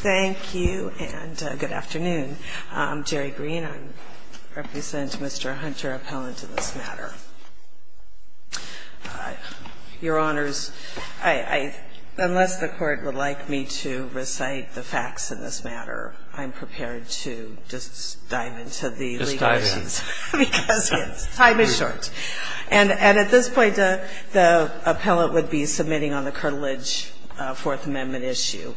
Thank you, and good afternoon. I'm Geri Greene. I represent Mr. Hunter, appellant in this matter. Your Honors, unless the Court would like me to recite the facts in this matter, I'm prepared to just dive into the legal issues. Just dive in. Because time is short. And at this point, the appellant would be submitting on the cartilage Fourth Amendment issue,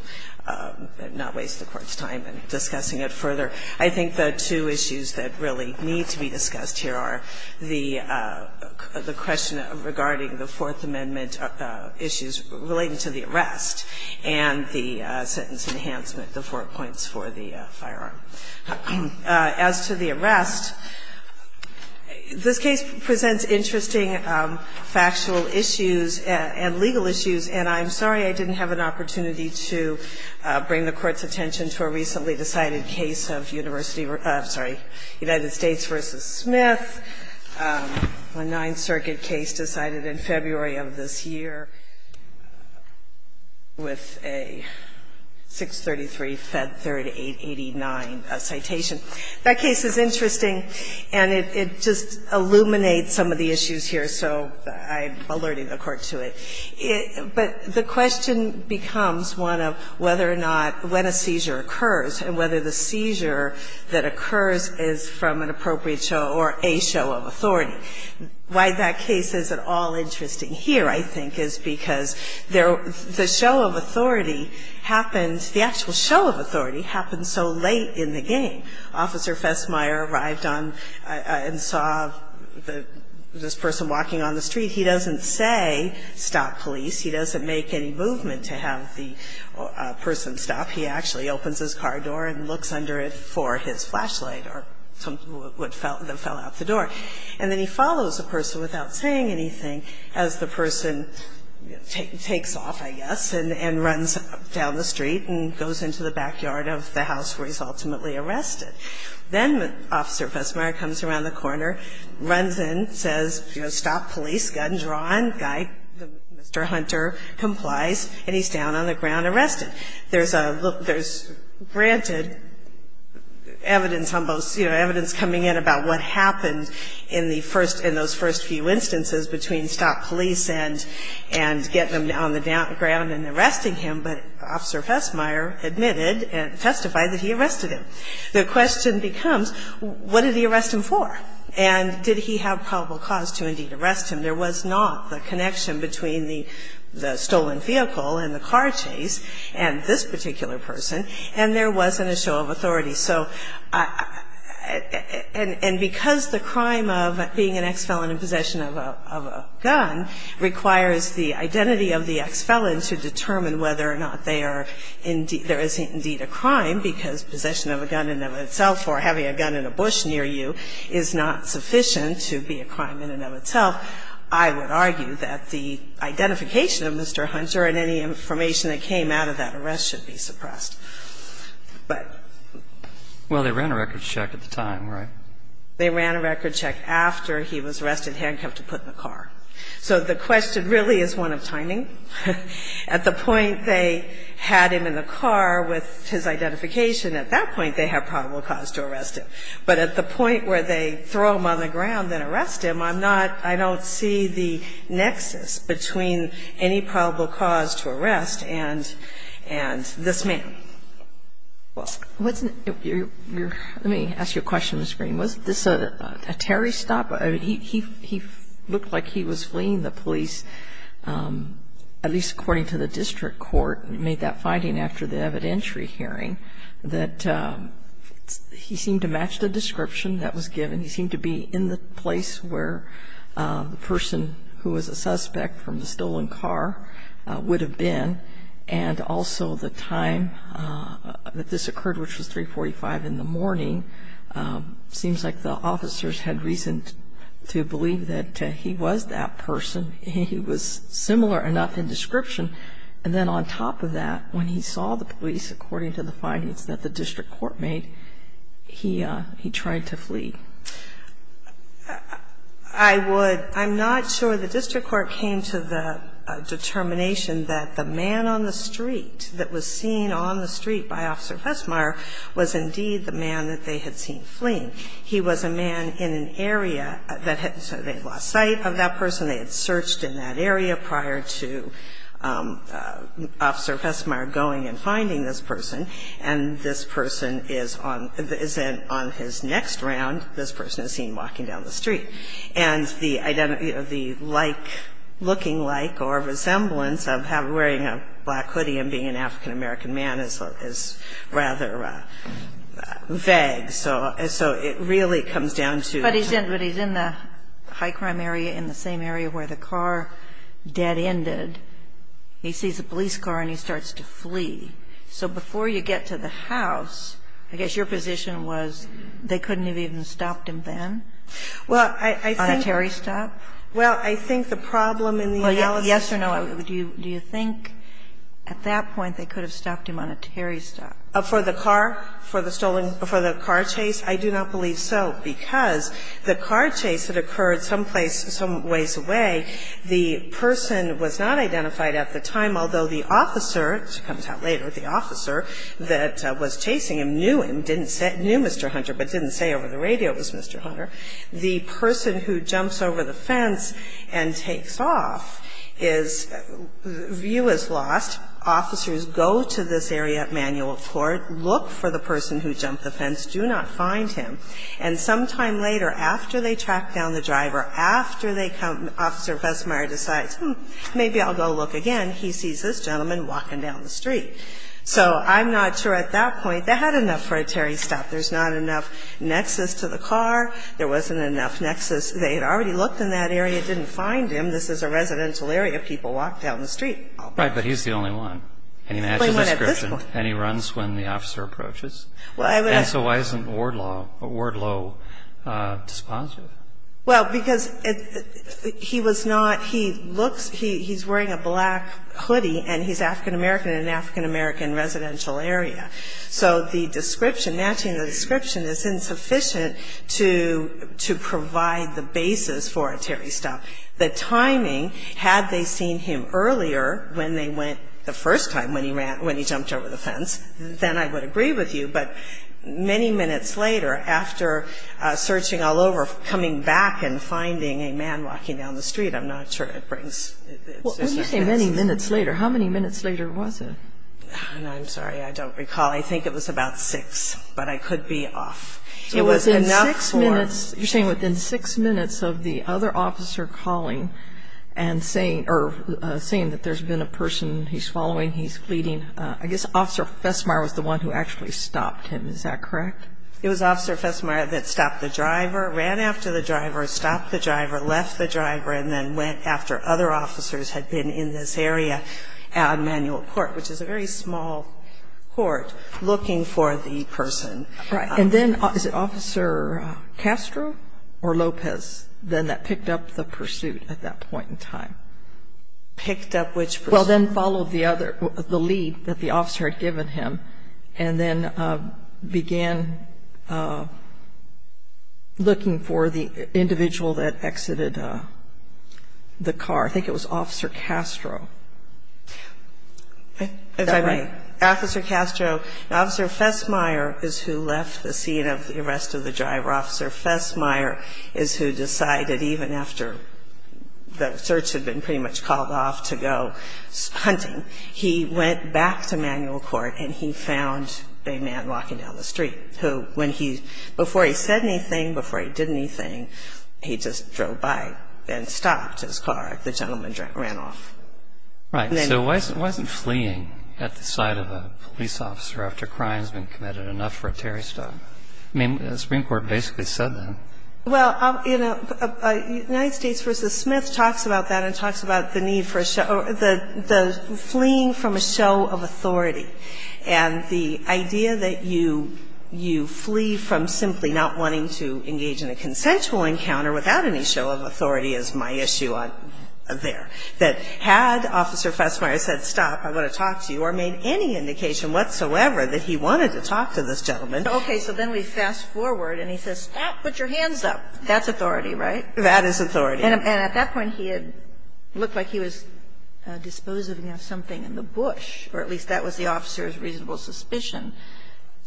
not waste the Court's time in discussing it further. I think the two issues that really need to be discussed here are the question regarding the Fourth Amendment issues related to the arrest and the sentence enhancement, the four points for the firearm. As to the arrest, this case presents interesting factual issues and legal issues. And I'm sorry I didn't have an opportunity to bring the Court's attention to a recently decided case of University of the United States v. Smith, a Ninth Circuit case decided in February of this year with a 633-Fed 3889 citation. That case is interesting, and it just illuminates some of the issues here, so I'm alerting the Court to it. But the question becomes one of whether or not, when a seizure occurs and whether the seizure that occurs is from an appropriate show or a show of authority. Why that case is at all interesting here, I think, is because the show of authority happens, the actual show of authority happens so late in the game. Officer Fessmeier arrived on and saw this person walking on the street. He doesn't say, stop police. He doesn't make any movement to have the person stop. He actually opens his car door and looks under it for his flashlight or something that fell out the door. And then he follows the person without saying anything as the person takes off, I guess, and runs down the street and goes into the backyard of the house where he's ultimately arrested. Then Officer Fessmeier comes around the corner, runs in, says, you know, stop police, gun drawn. Guy, Mr. Hunter, complies, and he's down on the ground arrested. There's granted evidence on both, you know, evidence coming in about what happened in the first, in those first few instances between stop police and getting him down on the ground and arresting him, but Officer Fessmeier admitted and testified that he arrested him. The question becomes, what did he arrest him for? And did he have probable cause to indeed arrest him? There was not the connection between the stolen vehicle and the car chase and this particular person, and there wasn't a show of authority. So, and because the crime of being an ex-felon in possession of a gun requires the identity of the ex-felon to determine whether or not they are indeed, there is indeed a crime because possession of a gun in and of itself or having a gun in a bush near you is not sufficient to be a crime in and of itself, I would argue that the identification of Mr. Hunter and any information that came out of that arrest should be suppressed. But ---- Well, they ran a record check at the time, right? They ran a record check after he was arrested, handcuffed, and put in the car. So the question really is one of timing. At the point they had him in the car with his identification, at that point they have probable cause to arrest him. But at the point where they throw him on the ground and arrest him, I'm not, I don't see the nexus between any probable cause to arrest and this man. Well, what's your ---- let me ask you a question, Ms. Green. Was this a terrorist stop? He looked like he was fleeing the police, at least according to the district court, made that finding after the evidentiary hearing, that he seemed to match the description that was given. He seemed to be in the place where the person who was a suspect from the stolen car would have been, and also the time that this occurred, which was 345 in the morning, seems like the officers had reason to believe that he was that person. He was similar enough in description. And then on top of that, when he saw the police, according to the findings that the district court made, he tried to flee. I would ---- I'm not sure the district court came to the determination that the man on the street that was seen on the street by Officer Fessmeyer was indeed the man that they had seen fleeing. He was a man in an area that had ---- they had lost sight of that person. They had searched in that area prior to Officer Fessmeyer going and finding this person. And this person is on his next round, this person is seen walking down the street. And the like, looking like or resemblance of wearing a black hoodie and being an African-American man is rather vague. So it really comes down to ---- But he's in the high crime area in the same area where the car dead-ended. He sees a police car and he starts to flee. So before you get to the house, I guess your position was they couldn't have even stopped him then? Well, I think ---- On a Terry stop? Well, I think the problem in the analysis ---- And they could have stopped him on a Terry stop. For the car? For the stolen ---- for the car chase? I do not believe so, because the car chase that occurred someplace some ways away, the person was not identified at the time, although the officer, which comes out later, the officer that was chasing him knew him, didn't say ---- knew Mr. Hunter, but didn't say over the radio it was Mr. Hunter. The person who jumps over the fence and takes off is ---- view is lost. Officers go to this area at Manual Court, look for the person who jumped the fence, do not find him. And sometime later, after they track down the driver, after they come ---- Officer Vestmeyer decides, hmm, maybe I'll go look again. He sees this gentleman walking down the street. So I'm not sure at that point they had enough for a Terry stop. There's not enough nexus to the car. There wasn't enough nexus. They had already looked in that area, didn't find him. This is a residential area. People walk down the street. Right, but he's the only one. And he matches the description. And he runs when the officer approaches. And so why isn't Wardlow dispositive? Well, because he was not ---- he looks ---- he's wearing a black hoodie, and he's African-American in an African-American residential area. So the description, matching the description is insufficient to provide the basis for a Terry stop. The timing, had they seen him earlier when they went the first time when he ran ---- when he jumped over the fence, then I would agree with you. But many minutes later, after searching all over, coming back and finding a man walking down the street, I'm not sure it brings ---- Well, when you say many minutes later, how many minutes later was it? I'm sorry. I don't recall. I think it was about 6, but I could be off. It was enough for ---- You're saying within 6 minutes of the other officer calling and saying or saying that there's been a person he's following, he's fleeting, I guess Officer Fessmeyer was the one who actually stopped him. Is that correct? It was Officer Fessmeyer that stopped the driver, ran after the driver, stopped the driver, left the driver, and then went after other officers had been in this area at Emanuel Court, which is a very small court looking for the person. Right. And then is it Officer Castro or Lopez then that picked up the pursuit at that point in time? Picked up which pursuit? Well, then followed the other, the lead that the officer had given him, and then began looking for the individual that exited the car. I think it was Officer Castro. Is that right? Officer Castro, Officer Fessmeyer is who left the scene of the arrest of the driver. Officer Fessmeyer is who decided even after the search had been pretty much called off to go hunting, he went back to Emanuel Court and he found a man walking down the street who when he, before he said anything, before he did anything, he just drove by and stopped his car. The gentleman ran off. Right. So why isn't fleeing at the sight of a police officer after a crime has been committed enough for a Terry stop? I mean, the Supreme Court basically said that. Well, you know, United States v. Smith talks about that and talks about the need for a show, the fleeing from a show of authority. And the idea that you flee from simply not wanting to engage in a consensual encounter without any show of authority is my issue there. That had Officer Fessmeyer said, stop, I want to talk to you, or made any indication whatsoever that he wanted to talk to this gentleman. Okay. So then we fast forward and he says, stop, put your hands up. That's authority, right? That is authority. And at that point he had looked like he was disposing of something in the bush, or at least that was the officer's reasonable suspicion.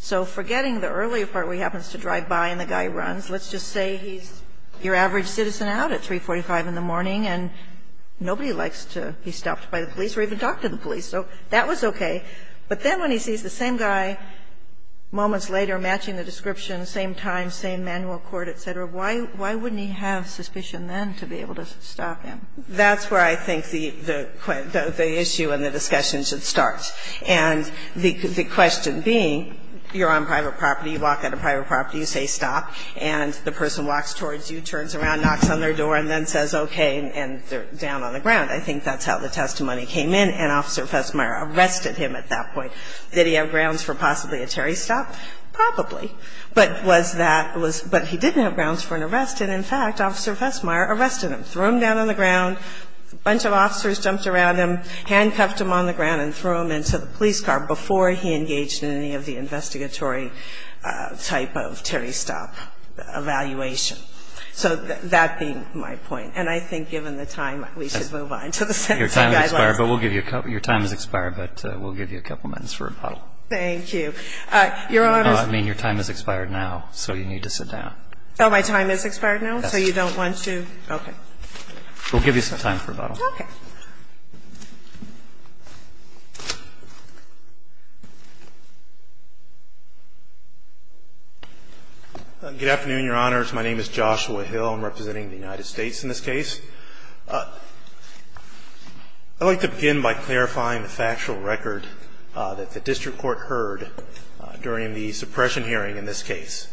So forgetting the earlier part where he happens to drive by and the guy runs, let's just say he's your average citizen out at 345 in the morning and nobody likes to be stopped by the police or even talk to the police. So that was okay. But then when he sees the same guy moments later matching the description, same time, same manual court, et cetera, why wouldn't he have suspicion then to be able to stop him? That's where I think the issue and the discussion should start. And the question being, you're on private property, you walk out of private property, you say stop, and the person walks towards you, turns around, knocks on their door, and then says okay, and they're down on the ground. I think that's how the testimony came in, and Officer Fessmeyer arrested him at that point. Did he have grounds for possibly a Terry stop? Probably. But was that was – but he didn't have grounds for an arrest, and in fact, Officer Fessmeyer arrested him, threw him down on the ground, a bunch of officers jumped around him, handcuffed him on the ground and threw him into the police car before he engaged in any of the investigatory type of Terry stop evaluation. So that being my point. And I think given the time, we should move on to the sentencing guidelines. Your time has expired, but we'll give you a couple minutes for rebuttal. Thank you. Your Honor's – I mean, your time has expired now, so you need to sit down. Oh, my time has expired now? Yes. So you don't want to? Okay. We'll give you some time for rebuttal. Okay. Good afternoon, Your Honors. My name is Joshua Hill. I'm representing the United States in this case. I'd like to begin by clarifying the factual record that the district court heard during the suppression hearing in this case.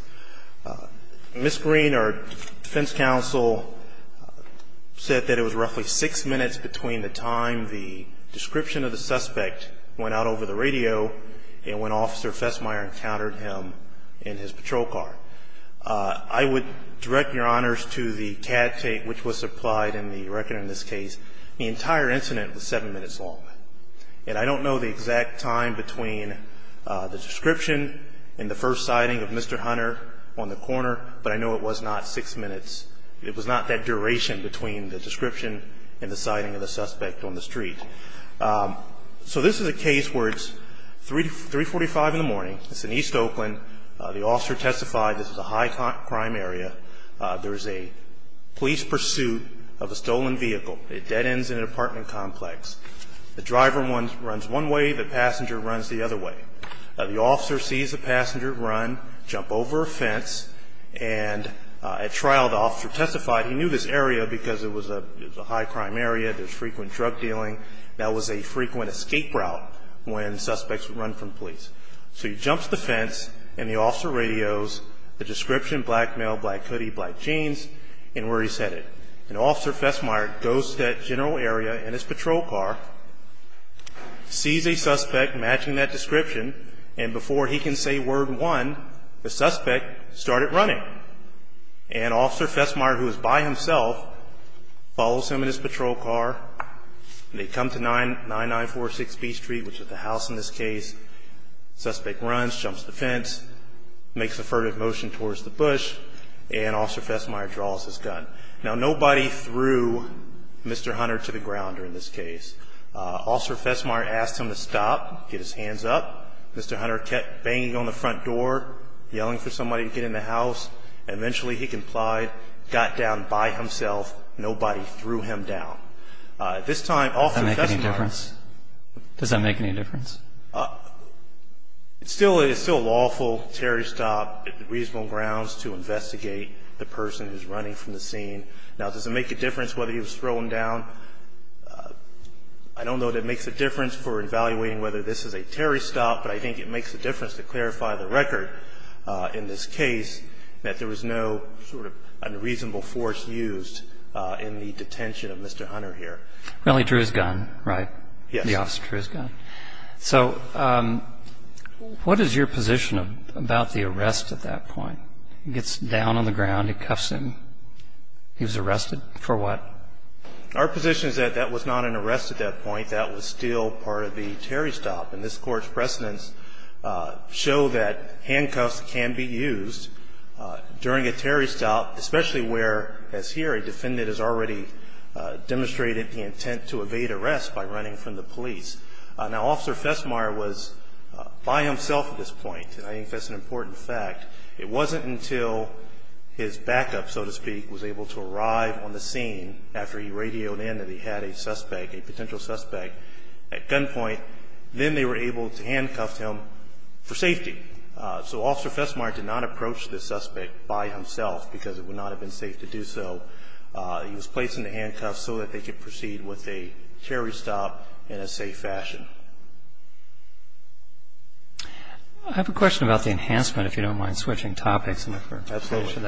Ms. Green, our defense counsel, said that it was roughly six minutes between the time the description of the suspect went out over the radio and when Officer Fessmeyer encountered him in his patrol car. I would direct your honors to the cad tape which was supplied in the record in this case. The entire incident was seven minutes long. And I don't know the exact time between the description and the first sighting of Mr. Hunter on the corner, but I know it was not six minutes. It was not that duration between the description and the sighting of the suspect on the street. So this is a case where it's 345 in the morning. It's in East Oakland. The officer testified this is a high crime area. There is a police pursuit of a stolen vehicle. It dead ends in an apartment complex. The driver runs one way. The passenger runs the other way. The officer sees the passenger run, jump over a fence, and at trial the officer testified he knew this area because it was a high crime area. There's frequent drug dealing. That was a frequent escape route when suspects would run from police. So he jumps the fence and the officer radios the description, black male, black hoodie, black jeans, and where he's headed. And Officer Fessmeyer goes to that general area in his patrol car, sees a suspect matching that description, and before he can say word one, the suspect started running. And Officer Fessmeyer, who is by himself, follows him in his patrol car. They come to 9946 B Street, which is the house in this case. Suspect runs, jumps the fence, makes a furtive motion towards the bush, and Officer Fessmeyer draws his gun. Now, nobody threw Mr. Hunter to the ground during this case. Officer Fessmeyer asked him to stop, get his hands up. Mr. Hunter kept banging on the front door, yelling for somebody to get in the house. Eventually he complied, got down by himself. Nobody threw him down. Does that make any difference? Does that make any difference? It's still lawful. Terry stopped at reasonable grounds to investigate the person who's running from the scene. Now, does it make a difference whether he was thrown down? I don't know that it makes a difference for evaluating whether this is a Terry stop, but I think it makes a difference to clarify the record in this case, that there was no sort of unreasonable force used in the detention of Mr. Hunter here. He only drew his gun, right? Yes. The officer drew his gun. So what is your position about the arrest at that point? He gets down on the ground, he cuffs him. He was arrested for what? Our position is that that was not an arrest at that point. That was still part of the Terry stop, and this Court's precedents show that handcuffs can be used during a Terry stop, especially where, as here, a defendant has already demonstrated the intent to evade arrest by running from the police. Now, Officer Festmeyer was by himself at this point, and I think that's an important fact. It wasn't until his backup, so to speak, was able to arrive on the scene after he radioed in that he had a suspect, a potential suspect, at gunpoint, then they were able to handcuff him for safety. So Officer Festmeyer did not approach the suspect by himself because it would not have been safe to do so. He was placed in the handcuffs so that they could proceed with a Terry stop in a safe fashion. I have a question about the enhancement, if you don't mind switching topics. Absolutely.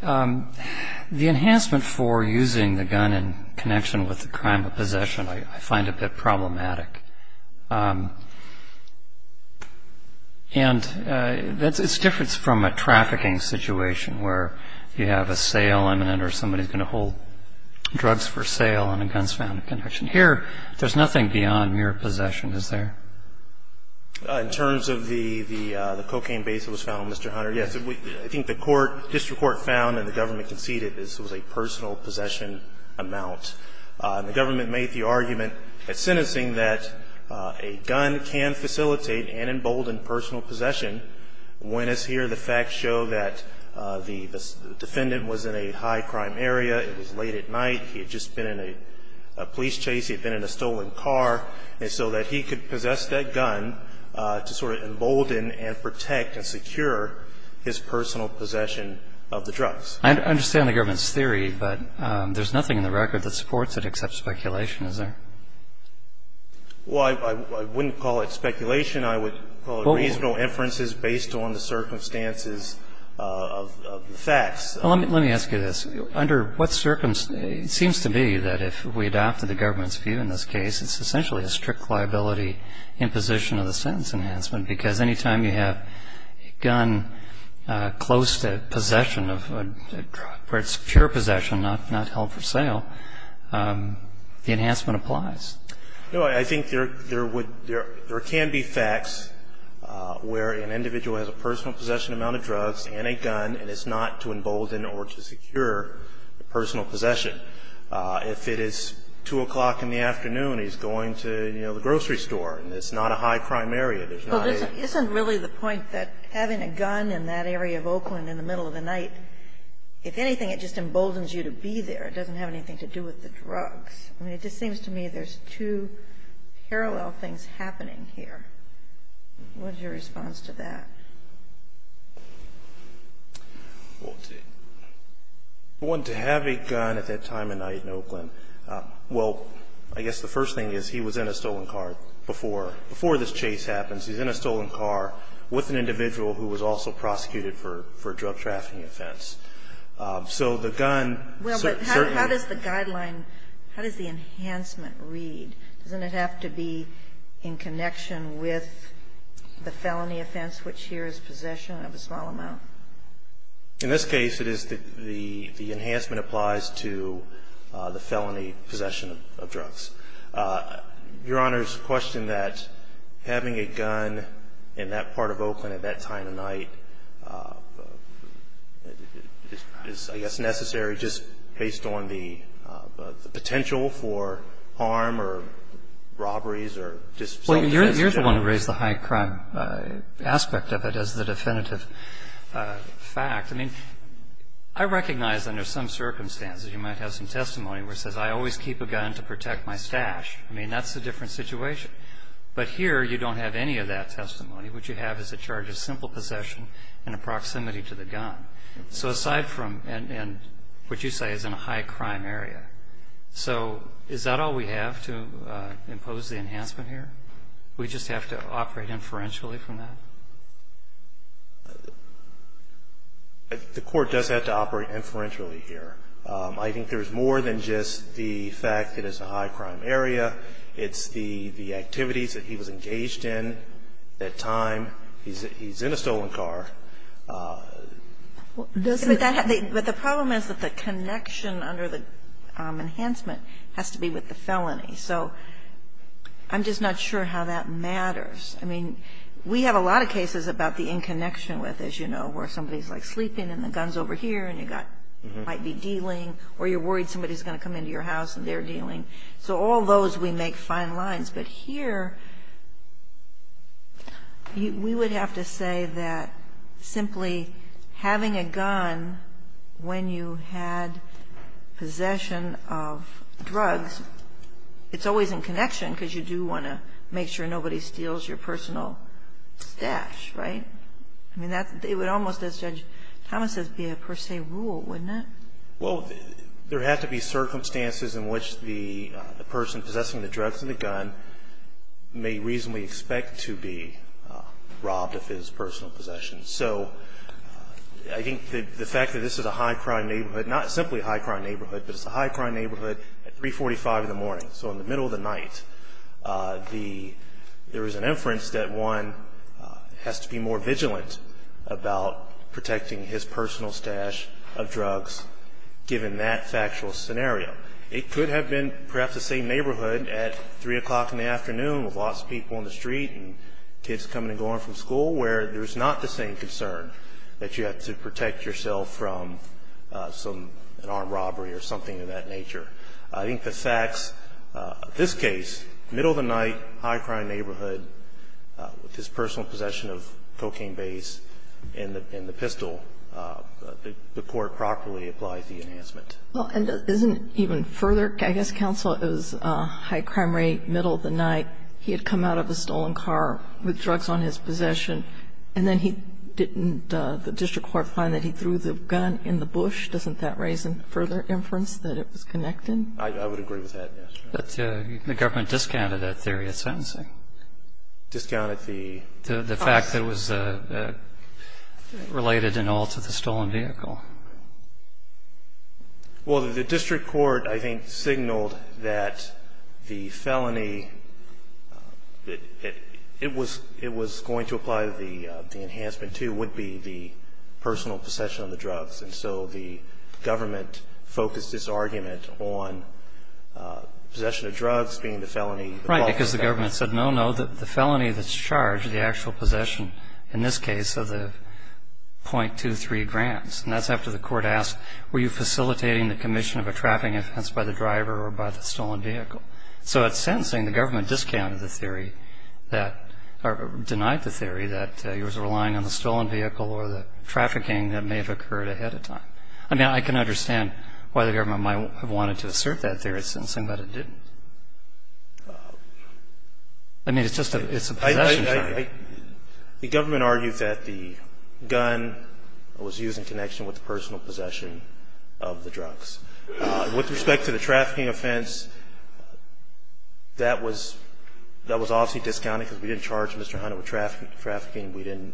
The enhancement for using the gun in connection with the crime of possession I find a bit problematic. And it's different from a trafficking situation where you have a sale imminent or somebody's going to hold drugs for sale and a gun's found in connection. Here, there's nothing beyond mere possession, is there? In terms of the cocaine base that was found, Mr. Hunter, yes. I think the court, district court found and the government conceded this was a personal possession amount. The government made the argument at sentencing that a gun can facilitate and embolden personal possession. When it's here, the facts show that the defendant was in a high crime area. It was late at night. He had just been in a police chase. He had been in a stolen car. And so that he could possess that gun to sort of embolden and protect and secure his personal possession of the drugs. I understand the government's theory, but there's nothing in the record that supports it except speculation, is there? Well, I wouldn't call it speculation. I would call it reasonable inferences based on the circumstances of the facts. Let me ask you this. Under what circumstances, it seems to be that if we adopt the government's view in this case, it's essentially a strict liability imposition of the sentence enhancement, because any time you have a gun close to possession of a drug, where it's pure possession, not held for sale, the enhancement applies. No, I think there would be or can be facts where an individual has a personal possession amount of drugs and a gun, and it's not to embolden or to secure personal possession. If it is 2 o'clock in the afternoon, he's going to, you know, the grocery store, and it's not a high crime area. There's not a ---- Well, isn't really the point that having a gun in that area of Oakland in the middle of the night, if anything, it just emboldens you to be there. It doesn't have anything to do with the drugs. I mean, it just seems to me there's two parallel things happening here. What's your response to that? Well, to have a gun at that time of night in Oakland, well, I guess the first thing is he was in a stolen car before this chase happens. He's in a stolen car with an individual who was also prosecuted for a drug trafficking offense. So the gun certainly ---- Well, but how does the guideline, how does the enhancement read? Doesn't it have to be in connection with the felony offense, which here is possession of a small amount? In this case, it is the enhancement applies to the felony possession of drugs. Your Honor's question that having a gun in that part of Oakland at that time of night is, I guess, necessary just based on the potential for harm or robberies or just self-defense in general. Well, you're the one who raised the high crime aspect of it as the definitive fact. I mean, I recognize under some circumstances you might have some testimony where it says I always keep a gun to protect my stash. I mean, that's a different situation. But here you don't have any of that testimony. What you have is a charge of simple possession and a proximity to the gun. So aside from ---- and what you say is in a high crime area. So is that all we have to impose the enhancement here? We just have to operate inferentially from that? The court does have to operate inferentially here. I think there's more than just the fact that it's a high crime area. It's the activities that he was engaged in at that time. He's in a stolen car. But the problem is that the connection under the enhancement has to be with the felony. So I'm just not sure how that matters. I mean, we have a lot of cases about the in connection with, as you know, where somebody's, like, sleeping and the gun's over here and you got ---- might be dealing or you're worried somebody's going to come into your house and they're dealing. So all those we make fine lines. But here we would have to say that simply having a gun when you had possession of drugs, it's always in connection because you do want to make sure nobody steals your personal stash, right? I mean, that's ---- it would almost, as Judge Thomas says, be a per se rule, wouldn't Well, there have to be circumstances in which the person possessing the drugs and the gun may reasonably expect to be robbed of his personal possessions. So I think the fact that this is a high crime neighborhood, not simply a high crime neighborhood, but it's a high crime neighborhood at 345 in the morning, so in the middle of the night, there is an inference that one has to be more vigilant about protecting his personal stash of drugs given that factual scenario. It could have been perhaps the same neighborhood at 3 o'clock in the afternoon with lots of people in the street and kids coming and going from school where there is not the same concern that you have to protect yourself from some ---- an armed robbery or something of that nature. I think the facts of this case, middle of the night, high crime neighborhood, with his personal possession of cocaine base and the pistol, the court properly applies the enhancement. Well, and isn't it even further? I guess counsel, it was high crime rate, middle of the night. He had come out of a stolen car with drugs on his possession, and then he didn't ---- the district court find that he threw the gun in the bush. Doesn't that raise a further inference that it was connected? I would agree with that, yes. But the government discounted that theory of sentencing. Discounted the ---- The fact that it was related in all to the stolen vehicle. Well, the district court, I think, signaled that the felony that it was going to apply the enhancement to would be the personal possession of the drugs. And so the government focused its argument on possession of drugs being the felony. Right, because the government said, no, no, the felony that's charged, the actual possession in this case of the .23 grams. And that's after the court asked, were you facilitating the commission of a trafficking offense by the driver or by the stolen vehicle? So at sentencing, the government discounted the theory that or denied the theory that he was relying on the stolen vehicle or the trafficking that may have occurred ahead of time. I mean, I can understand why the government might have wanted to assert that theory of sentencing, but it didn't. I mean, it's just a possession. The government argued that the gun was used in connection with the personal possession of the drugs. With respect to the trafficking offense, that was obviously discounted because we didn't charge Mr. Hunt with trafficking. We didn't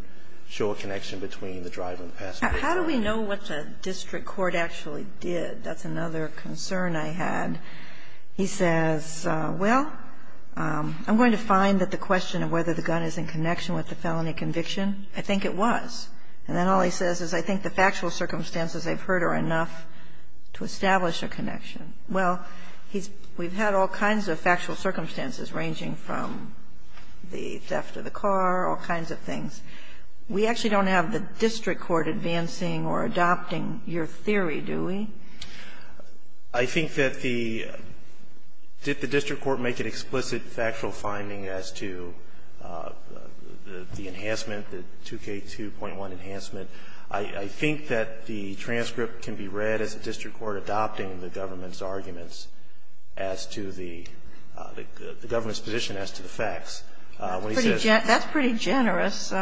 show a connection between the driver and the passenger. How do we know what the district court actually did? That's another concern I had. He says, well, I'm going to find that the question of whether the gun is in connection with the felony conviction, I think it was. And then all he says is, I think the factual circumstances I've heard are enough to establish a connection. Well, we've had all kinds of factual circumstances ranging from the theft of the car, all kinds of things. We actually don't have the district court advancing or adopting your theory, do we? I think that the – did the district court make an explicit factual finding as to the enhancement, the 2K2.1 enhancement? I think that the transcript can be read as the district court adopting the government's arguments as to the government's position as to the facts. That's pretty generous.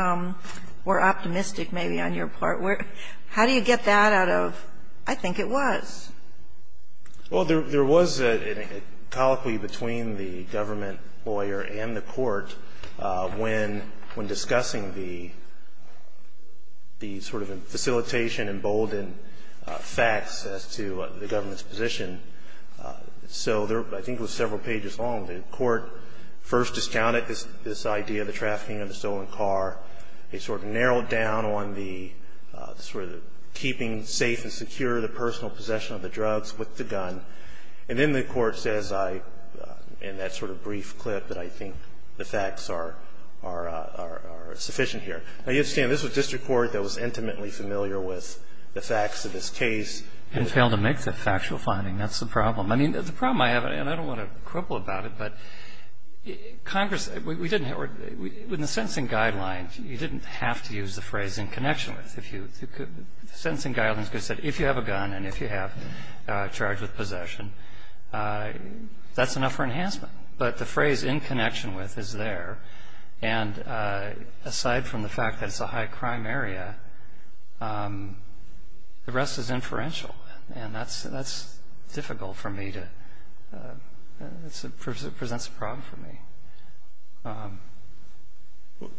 We're optimistic maybe on your part. How do you get that out of, I think it was? Well, there was a colloquy between the government lawyer and the court when discussing the sort of facilitation, emboldened facts as to the government's position. So I think it was several pages long. The court first discounted this idea, the trafficking of the stolen car. They sort of narrowed down on the sort of keeping safe and secure the personal possession of the drugs with the gun. And then the court says I, in that sort of brief clip, that I think the facts are sufficient here. Now, you understand, this was district court that was intimately familiar with the facts of this case. And failed to make the factual finding. That's the problem. I mean, the problem I have, and I don't want to quibble about it, but Congress in the sentencing guidelines, you didn't have to use the phrase in connection with. The sentencing guidelines said if you have a gun and if you have a charge of possession, that's enough for enhancement. But the phrase in connection with is there. And aside from the fact that it's a high crime area, the rest is inferential. And that's difficult for me to, it presents a problem for me.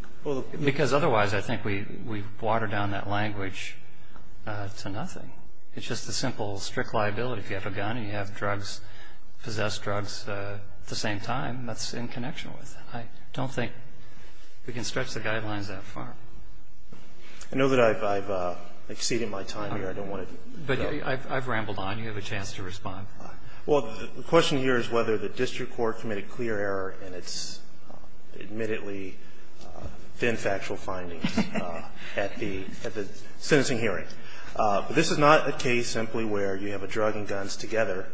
Because otherwise I think we water down that language to nothing. It's just a simple strict liability. If you have a gun and you have drugs, possess drugs at the same time, that's in connection with it. I don't think we can stretch the guidelines that far. I know that I've exceeded my time here. I don't want to go. But I've rambled on. You have a chance to respond. Well, the question here is whether the district court committed clear error in its admittedly thin factual findings at the sentencing hearing. This is not a case simply where you have a drug and guns together.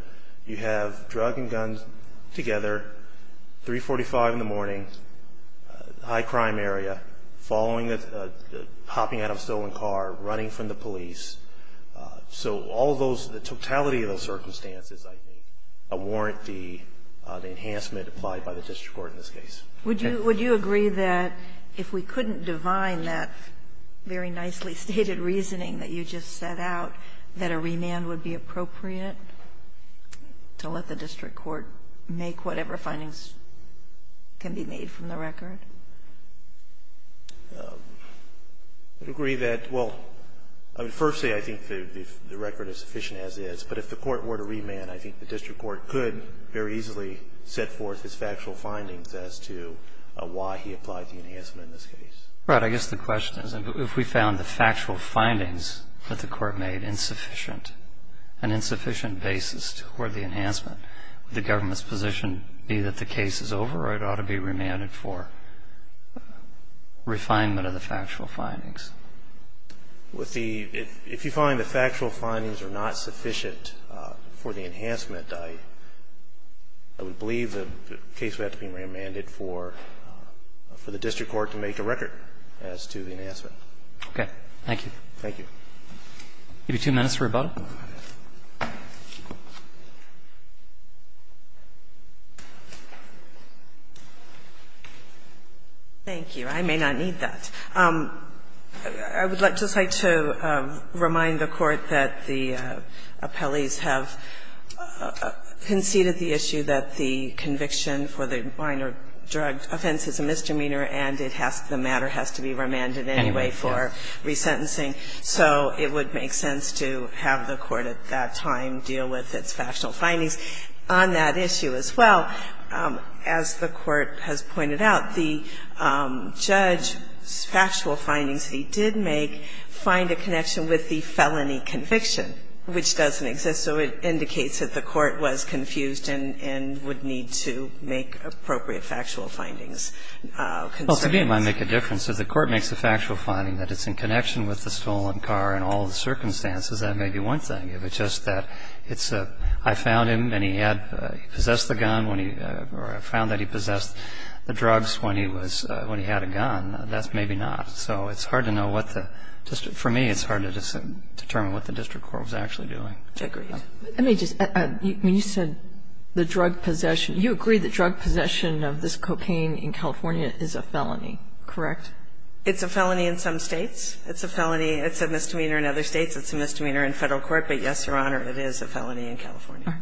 You have drug and guns together, 345 in the morning, high crime area, following a, hopping out of a stolen car, running from the police. So all those, the totality of those circumstances, I think, warrant the enhancement applied by the district court in this case. Would you agree that if we couldn't divine that very nicely stated reasoning that you just set out, that a remand would be appropriate to let the district court make whatever findings can be made from the record? I would agree that, well, I would first say I think the record is sufficient as is, but if the court were to remand, I think the district court could very easily set forth its factual findings as to why he applied the enhancement in this case. Right. I guess the question is if we found the factual findings that the court made insufficient, an insufficient basis toward the enhancement, would the government's position be that the case is over or it ought to be remanded for refinement of the factual findings? With the – if you find the factual findings are not sufficient for the enhancement, I would believe the case would have to be remanded for the district court to make a record as to the enhancement. Okay. Thank you. Thank you. I'll give you two minutes for rebuttal. Thank you. I may not need that. I would just like to remind the Court that the appellees have conceded the issue that the conviction for the minor drug offense is a misdemeanor and it has to be remanded anyway for resentencing. So it would make sense to have the Court at that time deal with its factual findings on that issue as well. As the Court has pointed out, the judge's factual findings that he did make find a connection with the felony conviction, which doesn't exist. So it indicates that the Court was confused and would need to make appropriate factual findings. Well, to me it might make a difference. If the Court makes a factual finding that it's in connection with the stolen car and all the circumstances, that may be one thing. If it's just that it's a, I found him and he had, he possessed the gun when he, or I found that he possessed the drugs when he was, when he had a gun, that's maybe not. So it's hard to know what the district, for me, it's hard to determine what the district court was actually doing. Agreed. Let me just, you said the drug possession. You agree the drug possession of this cocaine in California is a felony, correct? It's a felony in some States. It's a felony. It's a misdemeanor in other States. It's a misdemeanor in Federal court. But, yes, Your Honor, it is a felony in California.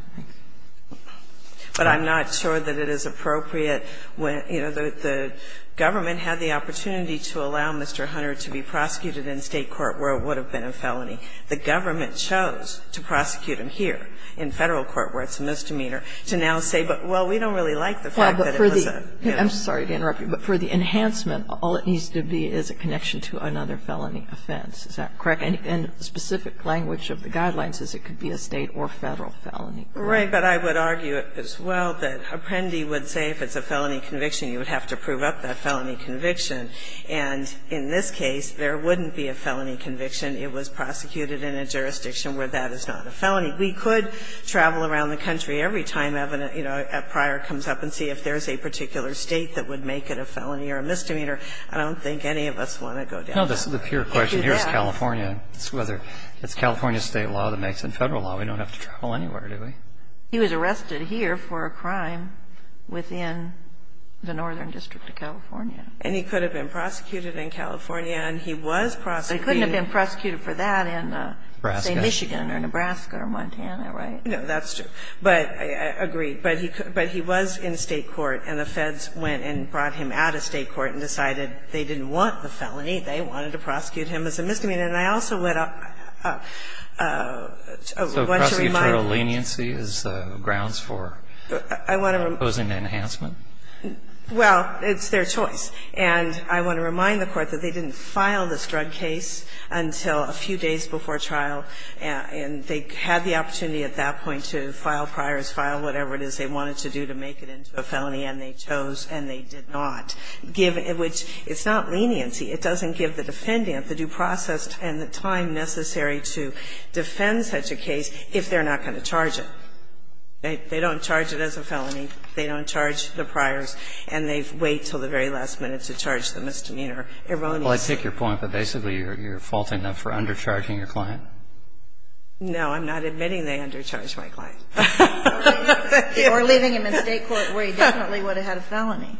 But I'm not sure that it is appropriate when, you know, the government had the opportunity to allow Mr. Hunter to be prosecuted in State court where it would have been a felony. The government chose to prosecute him here in Federal court where it's a misdemeanor to now say, well, we don't really like the fact that it was a, you know. Well, I would argue that the misdemeanor is a connection to another felony offense. Is that correct? And specific language of the guidelines is it could be a State or Federal felony. Right. But I would argue as well that Apprendi would say if it's a felony conviction, you would have to prove up that felony conviction. And in this case, there wouldn't be a felony conviction. It was prosecuted in a jurisdiction where that is not a felony. We could travel around the country every time, you know, a prior comes up and see if there's a particular State that would make it a felony or a misdemeanor. I don't think any of us want to go down that road. No, this is a pure question. Here's California. It's whether it's California State law that makes it Federal law. We don't have to travel anywhere, do we? He was arrested here for a crime within the Northern District of California. And he could have been prosecuted in California, and he was prosecuted. He couldn't have been prosecuted for that in, say, Michigan or Nebraska or Montana, right? No, that's true. But I agree. But he was in State court, and the Feds went and brought him out of State court and decided they didn't want the felony. They wanted to prosecute him as a misdemeanor. And I also want to remind you. So prosecutorial leniency is grounds for imposing an enhancement? Well, it's their choice. And I want to remind the Court that they didn't file this drug case until a few days before trial, and they had the opportunity at that point to file priors, file whatever it is they wanted to do to make it into a felony, and they chose, and they did not give it, which it's not leniency. It doesn't give the defendant the due process and the time necessary to defend such a case if they're not going to charge it. They don't charge it as a felony. They don't charge the priors. And they wait until the very last minute to charge the misdemeanor. Erroneous. Well, I take your point, but basically you're faulting them for undercharging your client? No, I'm not admitting they undercharged my client. Or leaving him in State court where he definitely would have had a felony.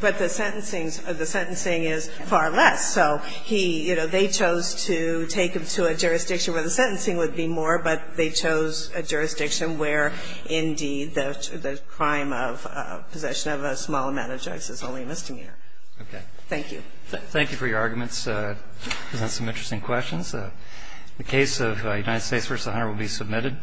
But the sentencing is far less. The sentencing would be more, but they chose a jurisdiction where, indeed, the crime of possession of a small amount of drugs is only a misdemeanor. Okay. Thank you. Thank you for your arguments. Those are some interesting questions. The case of United States v. Hunter will be submitted.